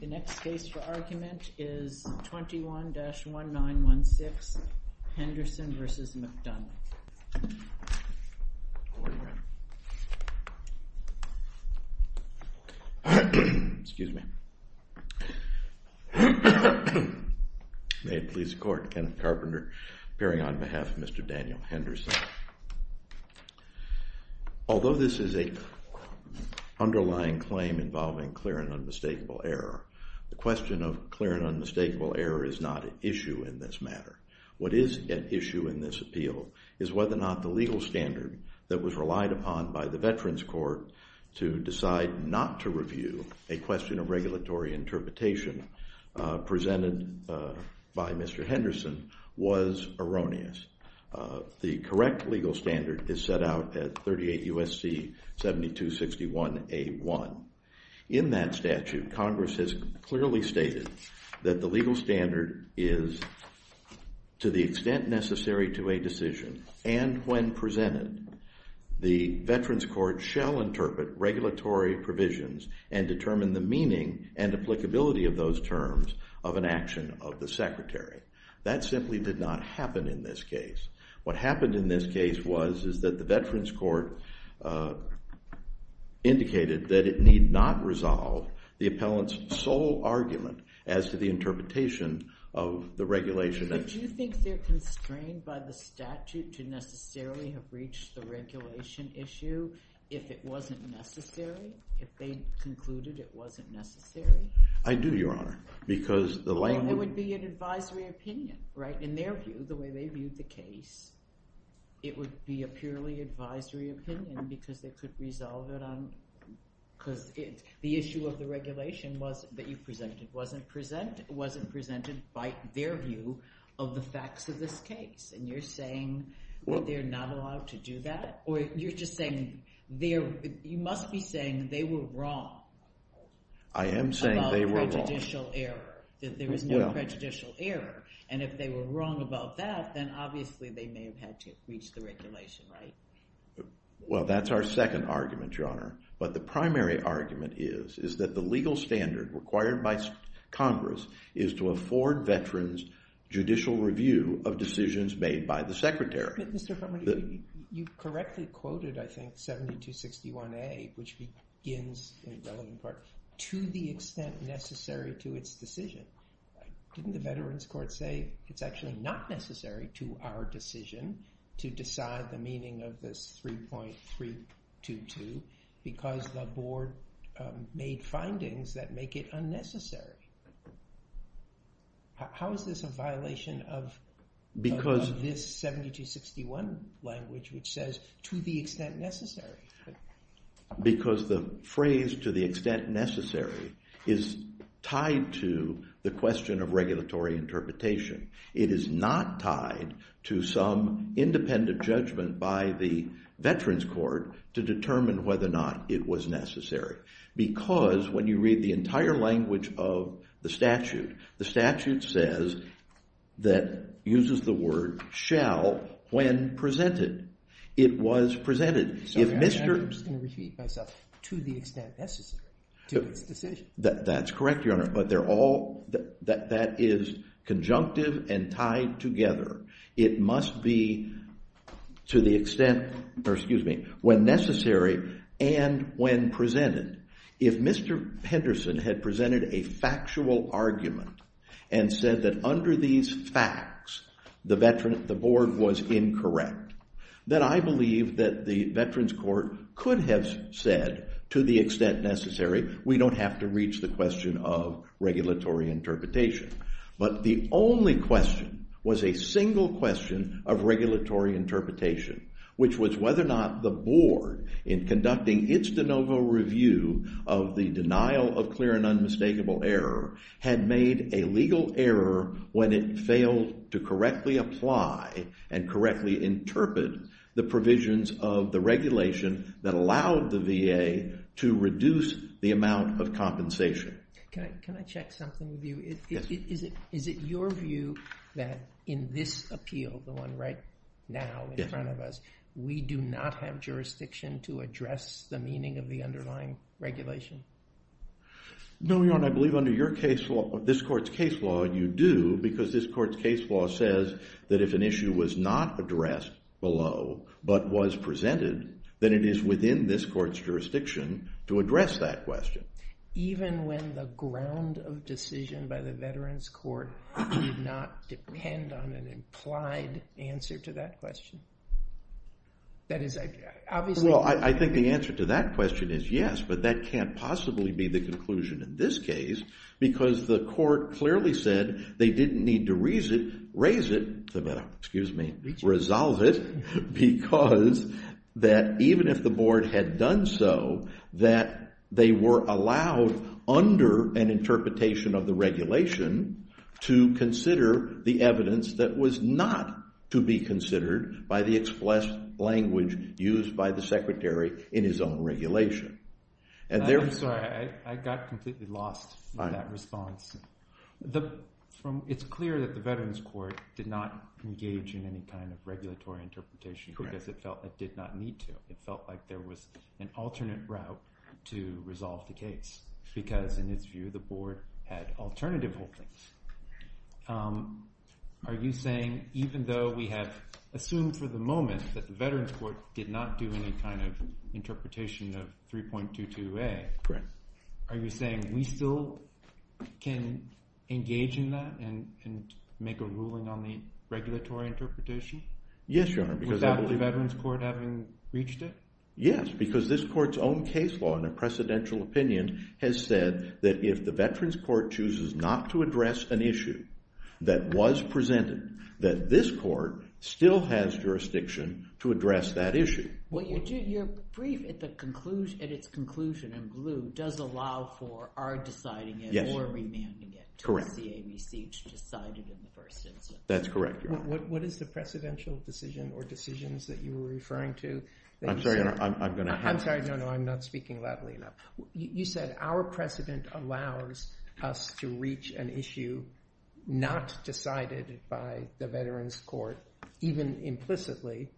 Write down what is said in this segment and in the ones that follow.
The next case for argument is 21-1916, Henderson v. McDonough. May it please the Court, Kenneth Carpenter appearing on behalf of Mr. Daniel Henderson. Although this is an underlying claim involving clear and unmistakable error, the question of clear and unmistakable error is not at issue in this matter. What is at issue in this appeal is whether or not the legal standard that was relied upon by the Veterans Court to decide not to review a question of regulatory interpretation presented by Mr. Henderson was erroneous. The correct legal standard is set out at 38 U.S.C. 7261A.1. In that statute, Congress has clearly stated that the legal standard is to the extent necessary to a decision, and when presented, the Veterans Court shall interpret regulatory provisions and determine the meaning and applicability of those terms of an action of the Secretary. That simply did not happen in this case. What happened in this case was is that the Veterans Court indicated that it need not resolve the appellant's sole argument as to the interpretation of the regulation. But do you think they're constrained by the statute to necessarily have reached the regulation issue if it wasn't necessary? If they concluded it wasn't necessary? I do, Your Honor. Well, it would be an advisory opinion, right? In their view, the way they viewed the case, it would be a purely advisory opinion because they could resolve it on – because the issue of the regulation that you presented wasn't presented by their view of the facts of this case. And you're saying that they're not allowed to do that? Or you're just saying they're – you must be saying they were wrong. I am saying they were wrong. There is no prejudicial error. There is no prejudicial error. And if they were wrong about that, then obviously they may have had to reach the regulation, right? Well, that's our second argument, Your Honor. But the primary argument is is that the legal standard required by Congress is to afford veterans judicial review of decisions made by the Secretary. You correctly quoted, I think, 7261A, which begins in the relevant part, to the extent necessary to its decision. Didn't the Veterans Court say it's actually not necessary to our decision to decide the meaning of this 3.322 because the board made findings that make it unnecessary? How is this a violation of this 7261 language which says to the extent necessary? Because the phrase to the extent necessary is tied to the question of regulatory interpretation. It is not tied to some independent judgment by the Veterans Court to determine whether or not it was necessary. Because when you read the entire language of the statute, the statute says that uses the word shall when presented. It was presented. I'm just going to repeat myself. To the extent necessary to its decision. That's correct, Your Honor. But they're all – that is conjunctive and tied together. It must be to the extent – or excuse me – when necessary and when presented. If Mr. Henderson had presented a factual argument and said that under these facts the board was incorrect, then I believe that the Veterans Court could have said to the extent necessary. We don't have to reach the question of regulatory interpretation. But the only question was a single question of regulatory interpretation, which was whether or not the board in conducting its de novo review of the denial of clear and unmistakable error had made a legal error when it failed to correctly apply and correctly interpret the provisions of the regulation that allowed the VA to reduce the amount of compensation. Can I check something with you? Yes. Is it your view that in this appeal, the one right now in front of us, we do not have jurisdiction to address the meaning of the underlying regulation? No, Your Honor. I believe under this court's case law you do because this court's case law says that if an issue was not addressed below but was presented, then it is within this court's jurisdiction to address that question. Even when the ground of decision by the Veterans Court did not depend on an implied answer to that question? Well, I think the answer to that question is yes. But that can't possibly be the conclusion in this case because the court clearly said they didn't need to raise it, resolve it, because that even if the board had done so, that they were allowed under an interpretation of the regulation to consider the evidence that was not to be considered by the express language used by the secretary in his own regulation. I'm sorry. I got completely lost in that response. It's clear that the Veterans Court did not engage in any kind of regulatory interpretation because it felt it did not need to. It felt like there was an alternate route to resolve the case because in its view, the board had alternative holdings. Are you saying even though we have assumed for the moment that the Veterans Court did not do any kind of interpretation of 3.22a, are you saying we still can engage in that and make a ruling on the regulatory interpretation? Yes, Your Honor. Without the Veterans Court having reached it? Yes, because this court's own case law in a precedential opinion has said that if the Veterans Court chooses not to address an issue that was presented, that this court still has jurisdiction to address that issue. Well, your brief at its conclusion in glue does allow for our deciding it or remanding it to CAVCH deciding in the first instance. That's correct, Your Honor. What is the precedential decision or decisions that you were referring to? I'm sorry. No, no, I'm not speaking loudly enough. You said our precedent allows us to reach an issue not decided by the Veterans Court, even implicitly,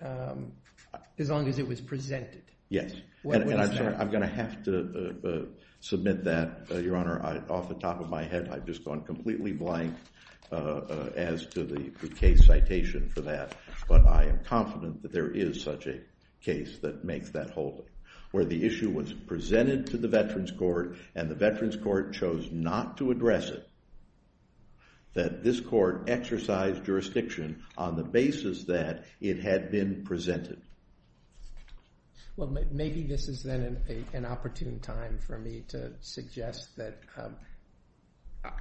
as long as it was presented. Yes. And I'm sorry. I'm going to have to submit that. Your Honor, off the top of my head, I've just gone completely blank as to the case citation for that. But I am confident that there is such a case that makes that whole. Where the issue was presented to the Veterans Court and the Veterans Court chose not to address it, that this court exercised jurisdiction on the basis that it had been presented. Well, maybe this is then an opportune time for me to suggest that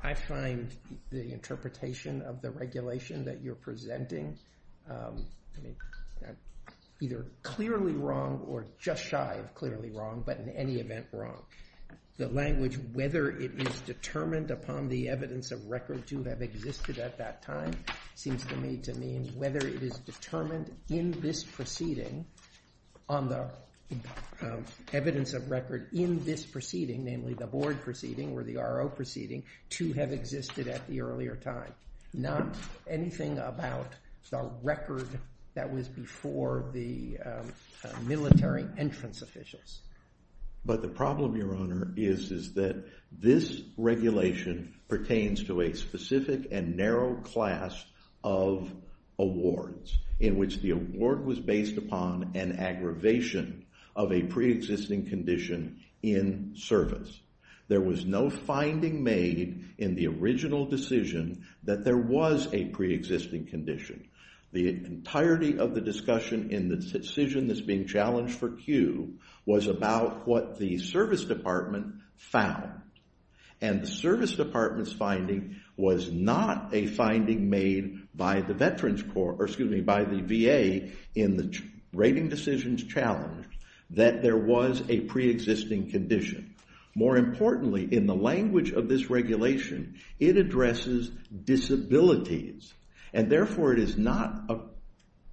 I find the interpretation of the regulation that you're presenting either clearly wrong or just shy of clearly wrong, but in any event wrong. The language, whether it is determined upon the evidence of record to have existed at that time, seems to me to mean whether it is determined in this proceeding, on the evidence of record in this proceeding, namely the board proceeding or the RO proceeding, to have existed at the earlier time. Not anything about the record that was before the military entrance officials. But the problem, Your Honor, is that this regulation pertains to a specific and narrow class of awards in which the award was based upon an aggravation of a preexisting condition in service. There was no finding made in the original decision that there was a preexisting condition. The entirety of the discussion in the decision that's being challenged for Q was about what the service department found. And the service department's finding was not a finding made by the VA in the rating decisions challenge that there was a preexisting condition. More importantly, in the language of this regulation, it addresses disabilities, and therefore it is not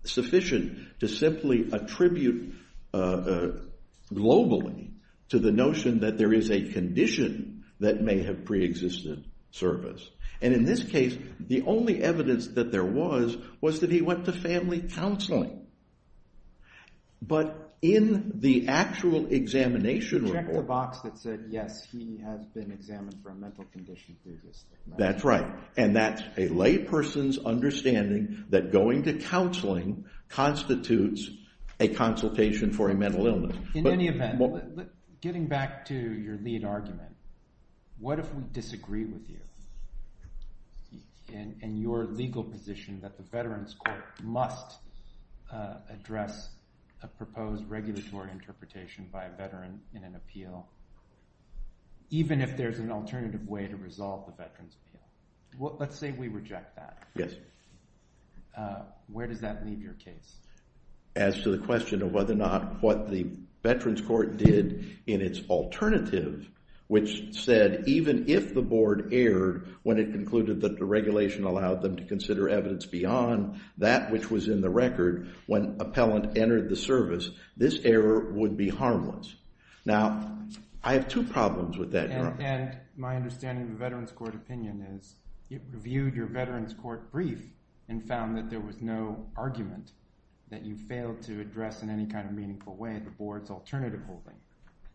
sufficient to simply attribute globally to the notion that there is a condition that may have preexisted service. And in this case, the only evidence that there was was that he went to family counseling. But in the actual examination report. Check the box that said, yes, he has been examined for a mental condition previously. That's right. And that's a lay person's understanding that going to counseling constitutes a consultation for a mental illness. In any event, getting back to your lead argument, what if we disagree with you in your legal position that the Veterans Court must address a proposed regulatory interpretation by a veteran in an appeal, even if there's an alternative way to resolve the veterans? Let's say we reject that. Yes. Where does that leave your case? As to the question of whether or not what the Veterans Court did in its alternative, which said even if the board erred when it concluded that the regulation allowed them to consider evidence beyond that which was in the record when appellant entered the service, this error would be harmless. Now, I have two problems with that. And my understanding of the Veterans Court opinion is it reviewed your Veterans Court brief and found that there was no argument that you failed to address in any kind of meaningful way the board's alternative holding.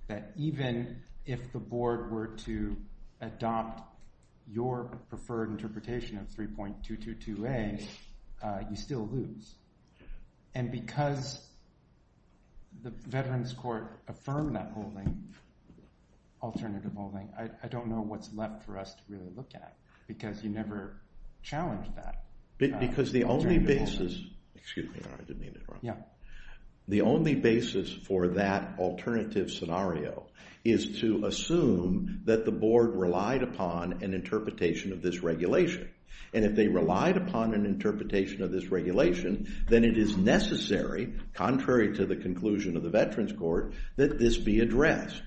That even if the board were to adopt your preferred interpretation of 3.222a, you still lose. And because the Veterans Court affirmed that holding, alternative holding, I don't know what's left for us to really look at because you never challenged that. Because the only basis for that alternative scenario is to assume that the board relied upon an interpretation of this regulation. And if they relied upon an interpretation of this regulation, then it is necessary, contrary to the conclusion of the Veterans Court, that this be addressed.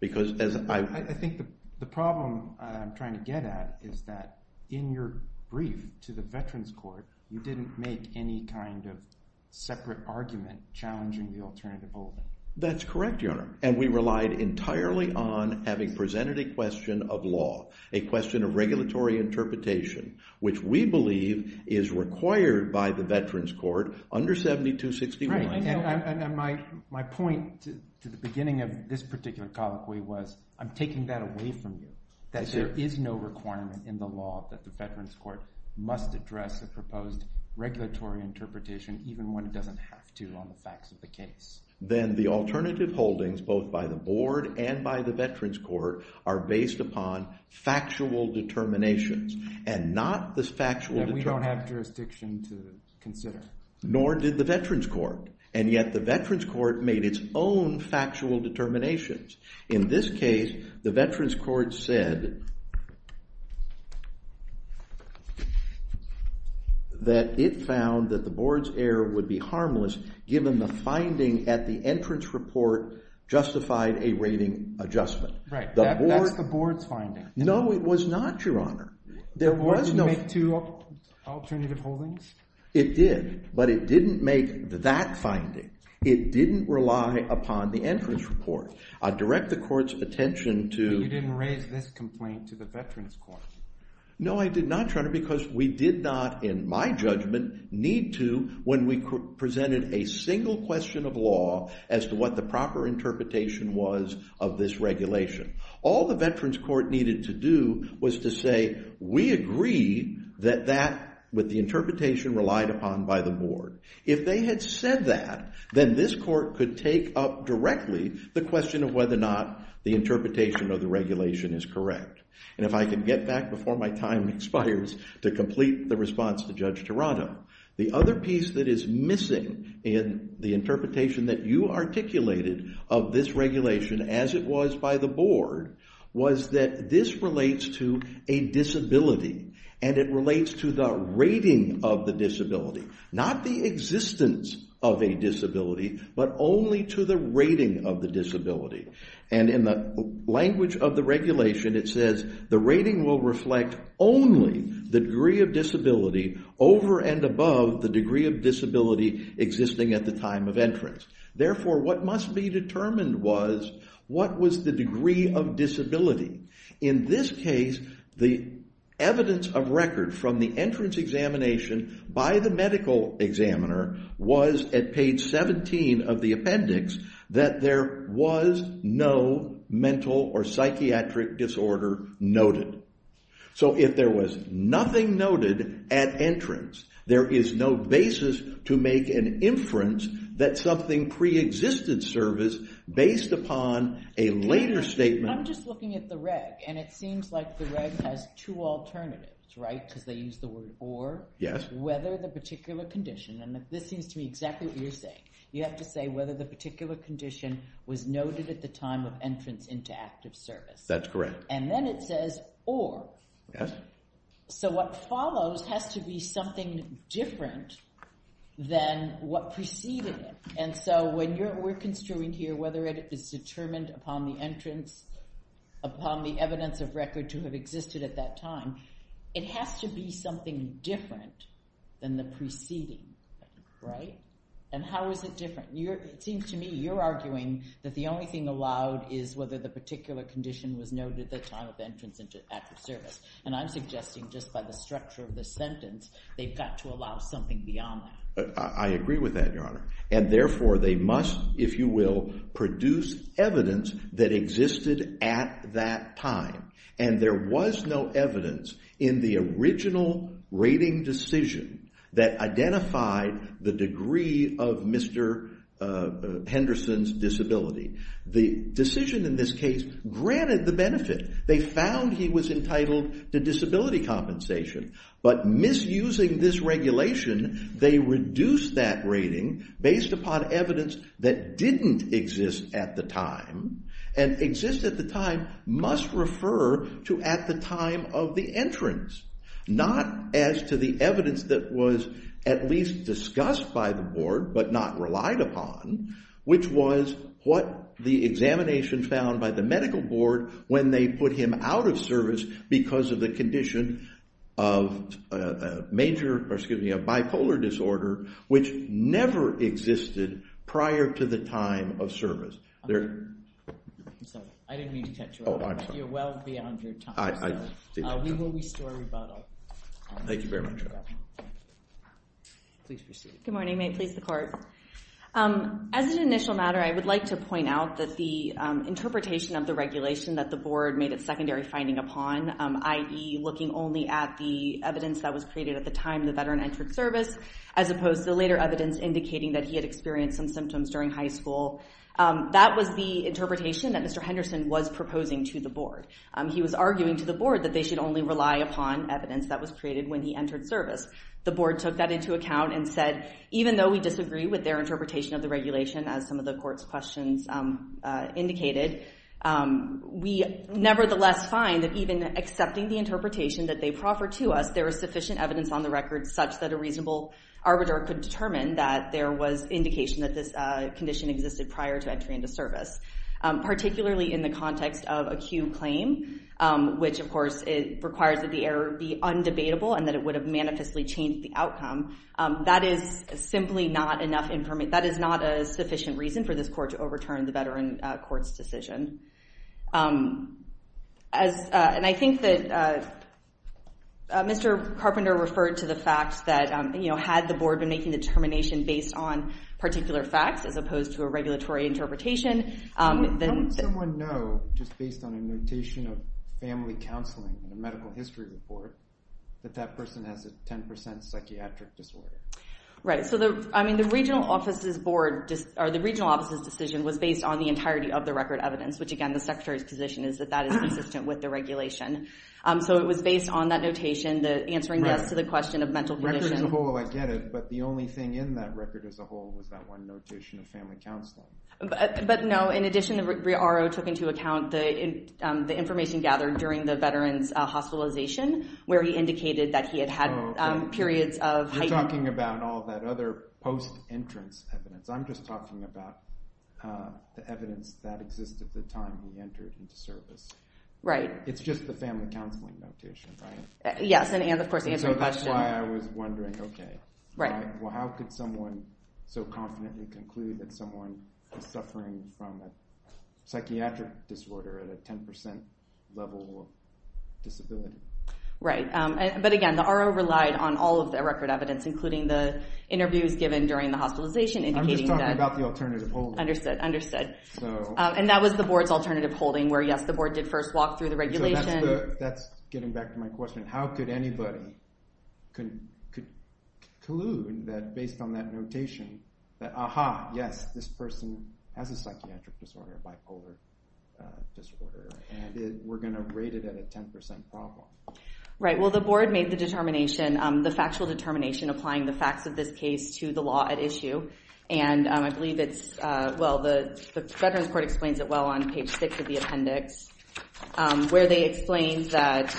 I think the problem I'm trying to get at is that in your brief to the Veterans Court, you didn't make any kind of separate argument challenging the alternative holding. That's correct, Your Honor. And we relied entirely on having presented a question of law, a question of regulatory interpretation, which we believe is required by the Veterans Court under 7261. Right. And my point to the beginning of this particular colloquy was I'm taking that away from you, that there is no requirement in the law that the Veterans Court must address a proposed regulatory interpretation even when it doesn't have to on the facts of the case. Then the alternative holdings, both by the board and by the Veterans Court, are based upon factual determinations and not the factual determinations. That we don't have jurisdiction to consider. justified a rating adjustment. Right. That's the board's finding. No, it was not, Your Honor. The board didn't make two alternative holdings? It did. But it didn't make that finding. It didn't rely upon the entrance report. I direct the court's attention to— But you didn't raise this complaint to the Veterans Court. No, I did not, Your Honor, because we did not, in my judgment, need to when we presented a single question of law as to what the proper interpretation was of this regulation. All the Veterans Court needed to do was to say, we agree that that, with the interpretation relied upon by the board. If they had said that, then this court could take up directly the question of whether or not the interpretation of the regulation is correct. And if I can get back before my time expires to complete the response to Judge Toronto. The other piece that is missing in the interpretation that you articulated of this regulation, as it was by the board, was that this relates to a disability. And it relates to the rating of the disability. Not the existence of a disability, but only to the rating of the disability. And in the language of the regulation, it says, the rating will reflect only the degree of disability over and above the degree of disability existing at the time of entrance. Therefore, what must be determined was, what was the degree of disability? In this case, the evidence of record from the entrance examination by the medical examiner was, at page 17 of the appendix, that there was no mental or psychiatric disorder noted. So, if there was nothing noted at entrance, there is no basis to make an inference that something preexisted service based upon a later statement. And I'm just looking at the reg. And it seems like the reg has two alternatives, right? Because they use the word or. Yes. Whether the particular condition, and this seems to me exactly what you're saying. You have to say whether the particular condition was noted at the time of entrance into active service. That's correct. And then it says, or. Yes. So, what follows has to be something different than what preceded it. And so, we're construing here whether it is determined upon the entrance, upon the evidence of record to have existed at that time. It has to be something different than the preceding, right? And how is it different? It seems to me you're arguing that the only thing allowed is whether the particular condition was noted at the time of entrance into active service. And I'm suggesting just by the structure of the sentence, they've got to allow something beyond that. I agree with that, Your Honor. And, therefore, they must, if you will, produce evidence that existed at that time. And there was no evidence in the original rating decision that identified the degree of Mr. Henderson's disability. The decision in this case granted the benefit. They found he was entitled to disability compensation. But misusing this regulation, they reduced that rating based upon evidence that didn't exist at the time. And exist at the time must refer to at the time of the entrance, not as to the evidence that was at least discussed by the board but not relied upon, which was what the examination found by the medical board when they put him out of service because of the condition of major, or excuse me, a bipolar disorder, which never existed prior to the time of service. I'm sorry. I didn't mean to cut you off. Oh, I'm sorry. You're well beyond your time. We will restore rebuttal. Thank you very much, Your Honor. Please proceed. Good morning. May it please the court. As an initial matter, I would like to point out that the interpretation of the regulation that the board made its secondary finding upon, i.e. looking only at the evidence that was created at the time the veteran entered service, as opposed to later evidence indicating that he had experienced some symptoms during high school, that was the interpretation that Mr. Henderson was proposing to the board. He was arguing to the board that they should only rely upon evidence that was created when he entered service. The board took that into account and said, even though we disagree with their interpretation of the regulation, as some of the court's questions indicated, we nevertheless find that even accepting the interpretation that they proffered to us, there is sufficient evidence on the record such that a reasonable arbiter could determine that there was indication that this condition existed prior to entry into service. Particularly in the context of a Q claim, which, of course, requires that the error be undebatable and that it would have manifestly changed the outcome. That is simply not enough information. That is not a sufficient reason for this court to overturn the veteran court's decision. And I think that Mr. Carpenter referred to the fact that, you know, had the board been making the determination based on particular facts as opposed to a regulatory interpretation, Don't someone know, just based on a notation of family counseling and a medical history report, that that person has a 10% psychiatric disorder? Right. So, I mean, the regional office's decision was based on the entirety of the record evidence, which, again, the secretary's position is that that is consistent with the regulation. So it was based on that notation, answering the question of mental condition. As a whole, I get it. But the only thing in that record as a whole was that one notation of family counseling. But, no, in addition, the RO took into account the information gathered during the veteran's hospitalization, where he indicated that he had had periods of heightened... You're talking about all that other post-entrance evidence. I'm just talking about the evidence that existed at the time he entered into service. Right. It's just the family counseling notation, right? Yes, and, of course, answering the question... Okay. Right. Well, how could someone so confidently conclude that someone is suffering from a psychiatric disorder at a 10% level of disability? Right. But, again, the RO relied on all of the record evidence, including the interviews given during the hospitalization, indicating that... I'm just talking about the alternative holding. Understood, understood. And that was the board's alternative holding, where, yes, the board did first walk through the regulation. That's getting back to my question. How could anybody conclude that, based on that notation, that, aha, yes, this person has a psychiatric disorder, bipolar disorder, and we're going to rate it at a 10% problem? Right. Well, the board made the determination, the factual determination, applying the facts of this case to the law at issue. And I believe it's... Well, the Veterans Court explains it well on page 6 of the appendix, where they explain that...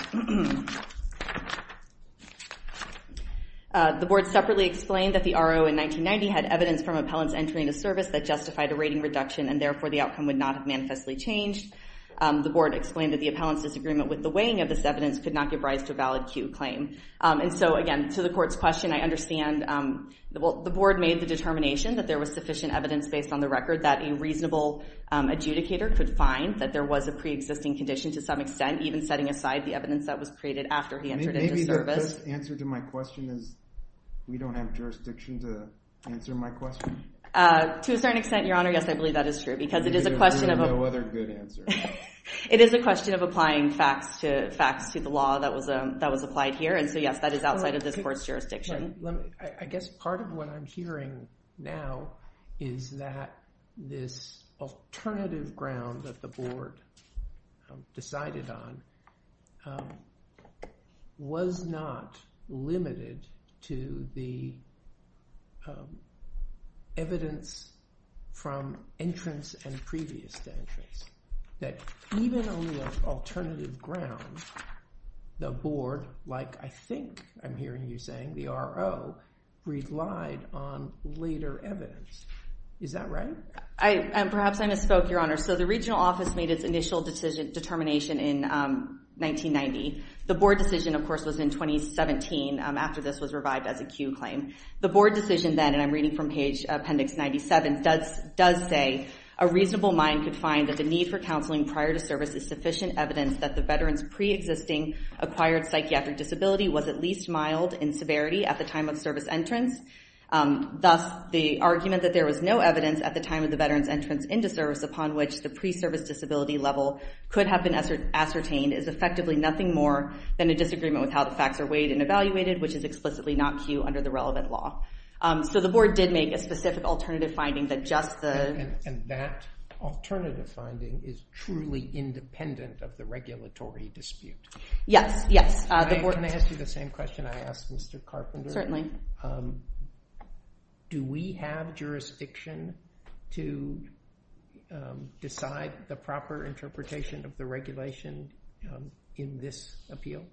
The board separately explained that the RO, in 1990, had evidence from appellants entering a service that justified a rating reduction and, therefore, the outcome would not have manifestly changed. The board explained that the appellants' disagreement with the weighing of this evidence could not give rise to a valid Q claim. And so, again, to the court's question, I understand... Well, the board made the determination that there was sufficient evidence, based on the record, that a reasonable adjudicator could find that there was a pre-existing condition to some extent, even setting aside the evidence that was created after he entered into service. Maybe the correct answer to my question is, we don't have jurisdiction to answer my question. To a certain extent, Your Honor, yes, I believe that is true, because it is a question of... There is no other good answer. It is a question of applying facts to the law that was applied here. And so, yes, that is outside of this court's jurisdiction. I guess part of what I'm hearing now is that this alternative ground that the board decided on was not limited to the evidence from entrance and previous entrance. That even on the alternative ground, the board, like I think I'm hearing you saying, the RO, relied on later evidence. Is that right? Perhaps I misspoke, Your Honor. So the regional office made its initial determination in 1990. The board decision, of course, was in 2017, after this was revived as a Q claim. The board decision then, and I'm reading from page appendix 97, does say, a reasonable mind could find that the need for counseling prior to service is sufficient evidence that the veteran's pre-existing acquired psychiatric disability was at least mild in severity at the time of service entrance. Thus, the argument that there was no evidence at the time of the veteran's entrance into service upon which the pre-service disability level could have been ascertained is effectively nothing more than a disagreement with how the facts are weighed and evaluated, which is explicitly not Q under the relevant law. So the board did make a specific alternative finding that just the... And that alternative finding is truly independent of the regulatory dispute. Yes, yes. Can I ask you the same question I asked Mr. Carpenter? Certainly. Do we have jurisdiction to decide the proper interpretation of the regulation in this appeal?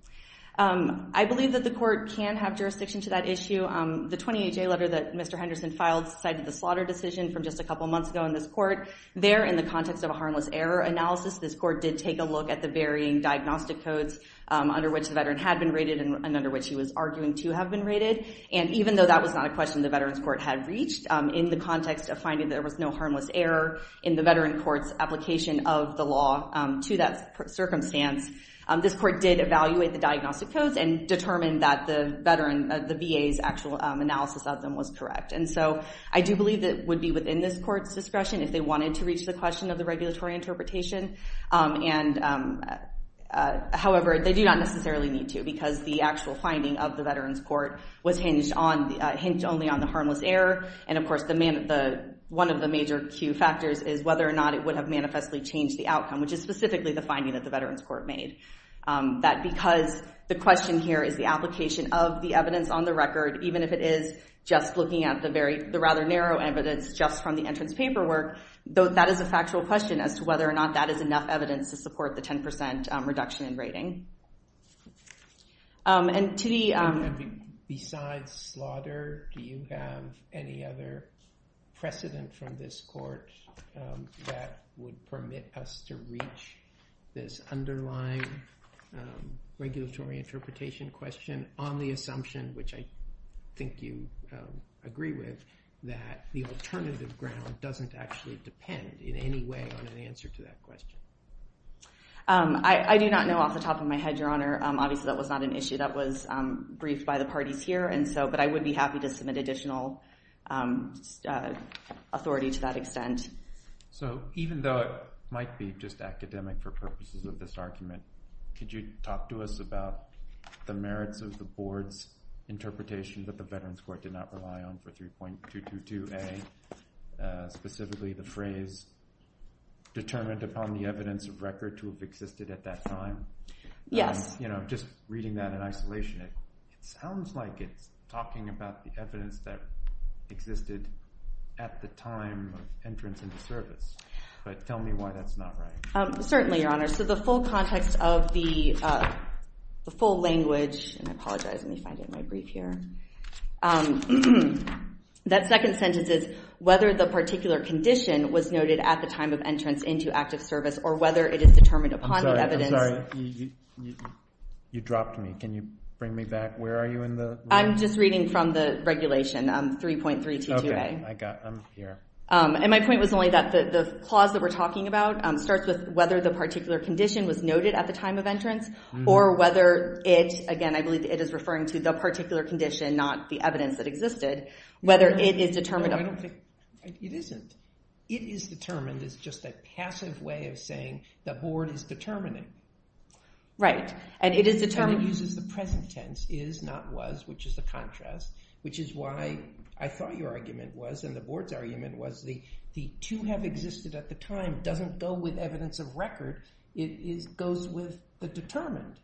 I believe that the court can have jurisdiction to that issue. The 28-J letter that Mr. Henderson filed cited the slaughter decision from just a couple months ago in this court. There, in the context of a harmless error analysis, this court did take a look at the varying diagnostic codes under which the veteran had been rated and under which he was arguing to have been rated. And even though that was not a question the veterans court had reached, in the context of finding there was no harmless error in the veteran court's application of the law to that circumstance, this court did evaluate the diagnostic codes and determined that the VA's actual analysis of them was correct. And so I do believe it would be within this court's discretion if they wanted to reach the question of the regulatory interpretation. However, they do not necessarily need to because the actual finding of the veterans court was hinged only on the harmless error. And of course, one of the major key factors is whether or not it would have manifestly changed the outcome, which is specifically the finding that the veterans court made. That because the question here is the application of the evidence on the record, even if it is just looking at the rather narrow evidence just from the entrance paperwork, that is a factual question as to whether or not that is enough evidence to support the 10% reduction in rating. Besides slaughter, do you have any other precedent from this court that would permit us to reach this underlying regulatory interpretation question on the assumption, which I think you agree with, that the alternative ground doesn't actually depend in any way on an answer to that question? I do not know off the top of my head, Your Honor. Obviously, that was not an issue that was briefed by the parties here. But I would be happy to submit additional authority to that extent. So even though it might be just academic for purposes of this argument, could you talk to us about the merits of the board's interpretation that the veterans court did not rely on for 3.222A, specifically the phrase, determined upon the evidence of record to have existed at that time? Yes. Just reading that in isolation, it sounds like it's talking about the evidence that existed at the time of entrance into service. But tell me why that's not right. Certainly, Your Honor. So the full context of the full language, and I apologize. Let me find it in my brief here. That second sentence is, whether the particular condition was noted at the time of entrance into active service or whether it is determined upon the evidence. I'm sorry. You dropped me. Can you bring me back? Where are you in the line? I'm just reading from the regulation, 3.322A. Okay. I got it. And my point was only that the clause that we're talking about starts with whether the particular condition was noted at the time of entrance or whether it, again, I believe it is referring to the particular condition, not the evidence that existed, whether it is determined upon. It isn't. It is determined is just a passive way of saying the Board is determining. Right. And it is determined. And it uses the present tense, is, not was, which is the contrast, which is why I thought your argument was, and the Board's argument was, the to have existed at the time doesn't go with evidence of record. It goes with the determined.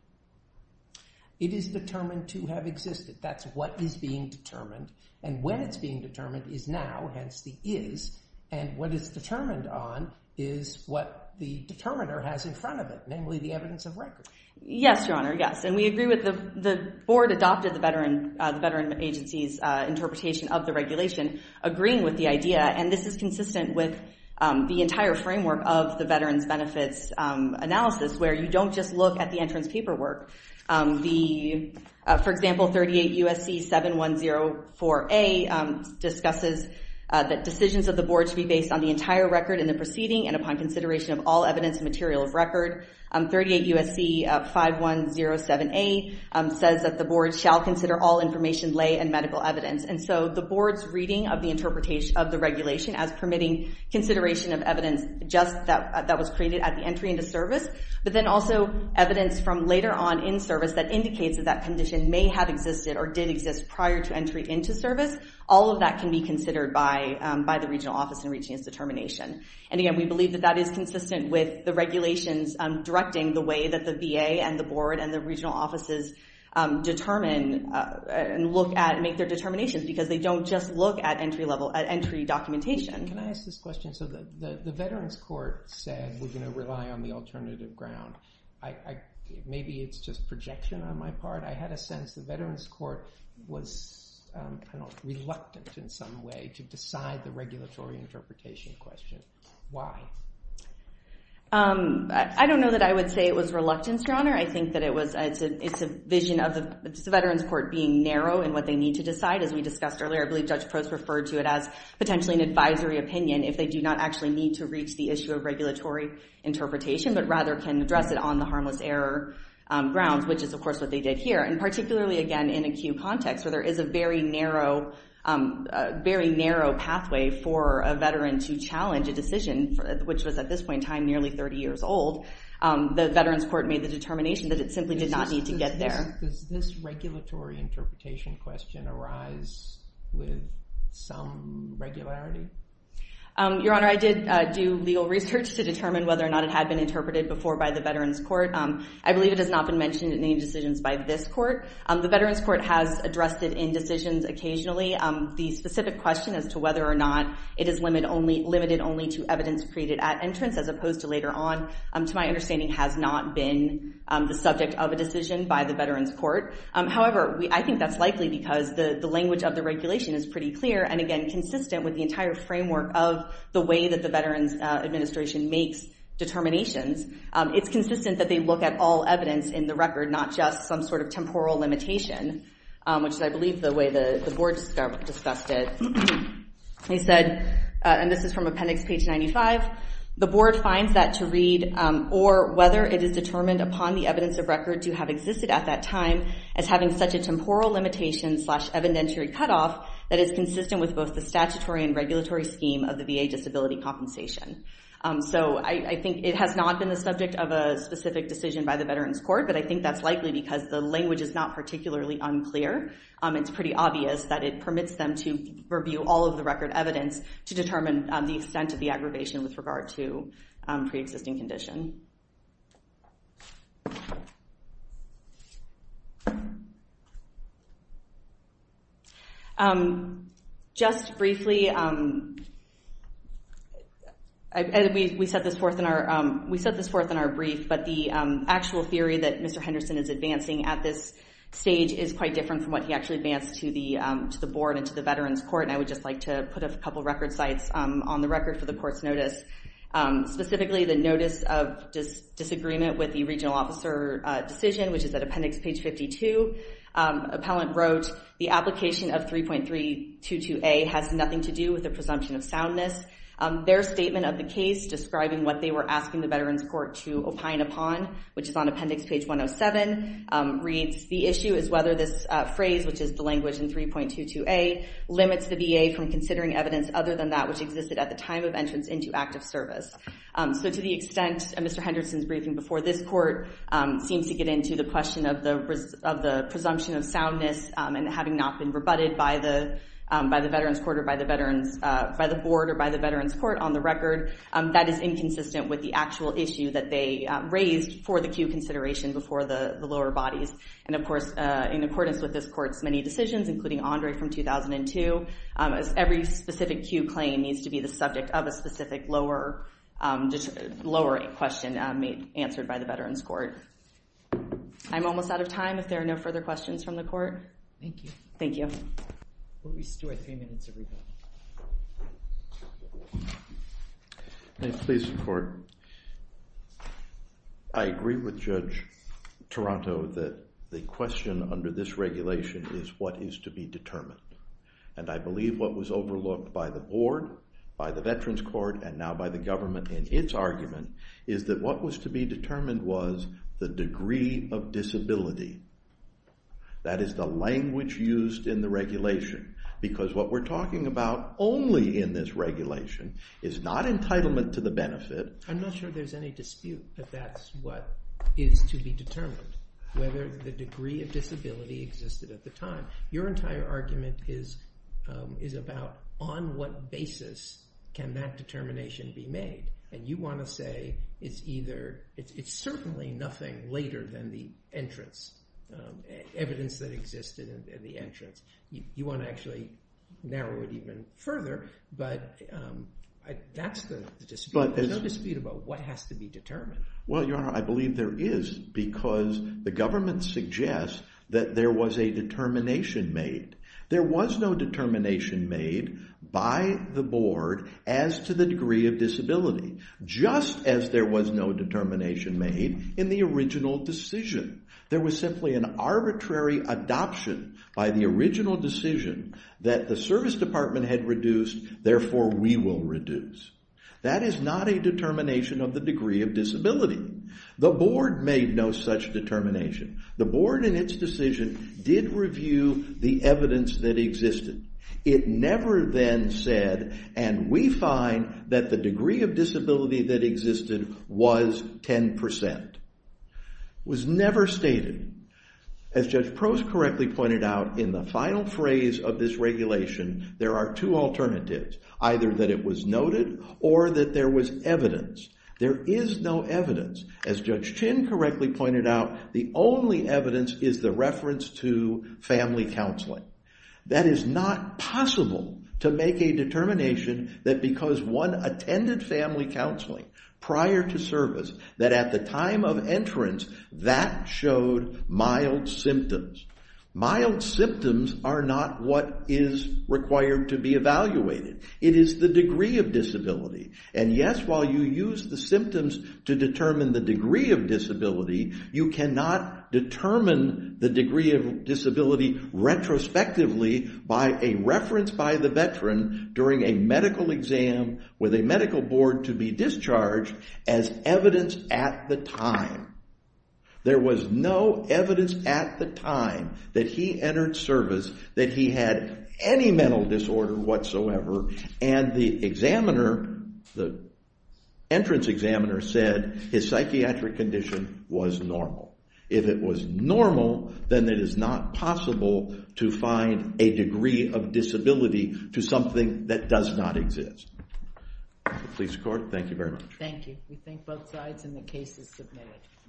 It is determined to have existed. That's what is being determined. And when it's being determined is now, hence the is. And what is determined on is what the determiner has in front of it, namely the evidence of record. Yes, Your Honor, yes. And we agree with the Board adopted the veteran agency's interpretation of the regulation, agreeing with the idea. And this is consistent with the entire framework of the Veterans Benefits Analysis, where you don't just look at the entrance paperwork. For example, 38 U.S.C. 7104A discusses that decisions of the Board should be based on the entire record in the proceeding and upon consideration of all evidence and material of record. 38 U.S.C. 5107A says that the Board shall consider all information, lay, and medical evidence. And so the Board's reading of the interpretation of the regulation as permitting consideration of evidence just that was created at the entry into service, but then also evidence from later on in service that indicates that that condition may have existed or did exist prior to entry into service, all of that can be considered by the regional office in reaching its determination. And again, we believe that that is consistent with the regulations directing the way that the VA and the Board and the regional offices determine and look at and make their determinations, because they don't just look at entry documentation. Can I ask this question? So the Veterans Court said we're going to rely on the alternative ground. Maybe it's just projection on my part. I had a sense the Veterans Court was reluctant in some way to decide the regulatory interpretation question. Why? I don't know that I would say it was reluctance, Your Honor. I think that it's a vision of the Veterans Court being narrow in what they need to decide. As we discussed earlier, I believe Judge Post referred to it as potentially an advisory opinion if they do not actually need to reach the issue of regulatory interpretation, but rather can address it on the harmless error grounds, which is, of course, what they did here. And particularly, again, in a queue context where there is a very narrow pathway for a veteran to challenge a decision, which was at this point in time nearly 30 years old, the Veterans Court made the determination that it simply did not need to get there. Does this regulatory interpretation question arise with some regularity? Your Honor, I did do legal research to determine whether or not it had been interpreted before by the Veterans Court. I believe it has not been mentioned in any decisions by this court. The Veterans Court has addressed it in decisions occasionally. The specific question as to whether or not it is limited only to evidence created at entrance as opposed to later on, to my understanding, has not been the subject of a decision by the Veterans Court. However, I think that's likely because the language of the regulation is pretty clear and, again, consistent with the entire framework of the way that the Veterans Administration makes determinations. It's consistent that they look at all evidence in the record, not just some sort of temporal limitation, which is, I believe, the way the board discussed it. They said, and this is from appendix page 95, the board finds that to read, or whether it is determined upon the evidence of record to have existed at that time as having such a temporal limitation slash evidentiary cutoff that is consistent with both the statutory and regulatory scheme of the VA disability compensation. So I think it has not been the subject of a specific decision by the Veterans Court, but I think that's likely because the language is not particularly unclear. It's pretty obvious that it permits them to review all of the record evidence to determine the extent of the aggravation with regard to pre-existing condition. Just briefly, we set this forth in our brief, but the actual theory that Mr. Henderson is advancing at this stage is quite different from what he actually advanced to the board and to the Veterans Court, and I would just like to put a couple record sites on the record for the court's notice. Specifically, the notice of disagreement with the regional officer decision which is at appendix page 52. Appellant wrote, the application of 3.322A has nothing to do with the presumption of soundness. Their statement of the case describing what they were asking the Veterans Court to opine upon, which is on appendix page 107, reads, the issue is whether this phrase, which is the language in 3.22A, limits the VA from considering evidence other than that which existed at the time of entrance into active service. So to the extent Mr. Henderson's briefing before this court seems to get into the question of the presumption of soundness and having not been rebutted by the Veterans Court or by the board or by the Veterans Court on the record, that is inconsistent with the actual issue that they raised for the cue consideration before the lower bodies. And of course, in accordance with this court's many decisions, including Andre from 2002, every specific cue claim needs to be the subject of a specific lower question answered by the Veterans Court. I'm almost out of time, if there are no further questions from the court. Thank you. Thank you. We still have three minutes everybody. Please, court. I agree with Judge Toronto that the question under this regulation is what is to be determined. And I believe what was overlooked by the board, by the Veterans Court, and now by the government in its argument is that what was to be determined was the degree of disability. That is the language used in the regulation. Because what we're talking about only in this regulation is not entitlement to the benefit. I'm not sure there's any dispute that that's what is to be determined, whether the degree of disability existed at the time. Your entire argument is about on what basis can that determination be made. And you want to say it's either, it's certainly nothing later than the entrance, evidence that existed at the entrance. You want to actually narrow it even further, but that's the dispute. There's no dispute about what has to be determined. Well, Your Honor, I believe there is because the government suggests that there was a determination made. There was no determination made by the board as to the degree of disability, just as there was no determination made in the original decision. There was simply an arbitrary adoption by the original decision that the service department had reduced, therefore we will reduce. That is not a determination of the degree of disability. The board made no such determination. The board in its decision did review the evidence that existed. It never then said, and we find that the degree of disability that existed was 10%. It was never stated. As Judge Prost correctly pointed out, in the final phrase of this regulation, there are two alternatives, either that it was noted or that there was evidence. There is no evidence. As Judge Chin correctly pointed out, the only evidence is the reference to family counseling. That is not possible to make a determination that because one attended family counseling prior to service, that at the time of entrance, that showed mild symptoms. Mild symptoms are not what is required to be evaluated. It is the degree of disability. And yes, while you use the symptoms to determine the degree of disability, you cannot determine the degree of disability retrospectively by a reference by the veteran during a medical exam with a medical board to be discharged as evidence at the time. There was no evidence at the time that he entered service that he had any mental disorder whatsoever, and the examiner, the entrance examiner, said his psychiatric condition was normal. If it was normal, then it is not possible to find a degree of disability to something that does not exist. The police court, thank you very much. Thank you. We thank both sides, and the case is submitted.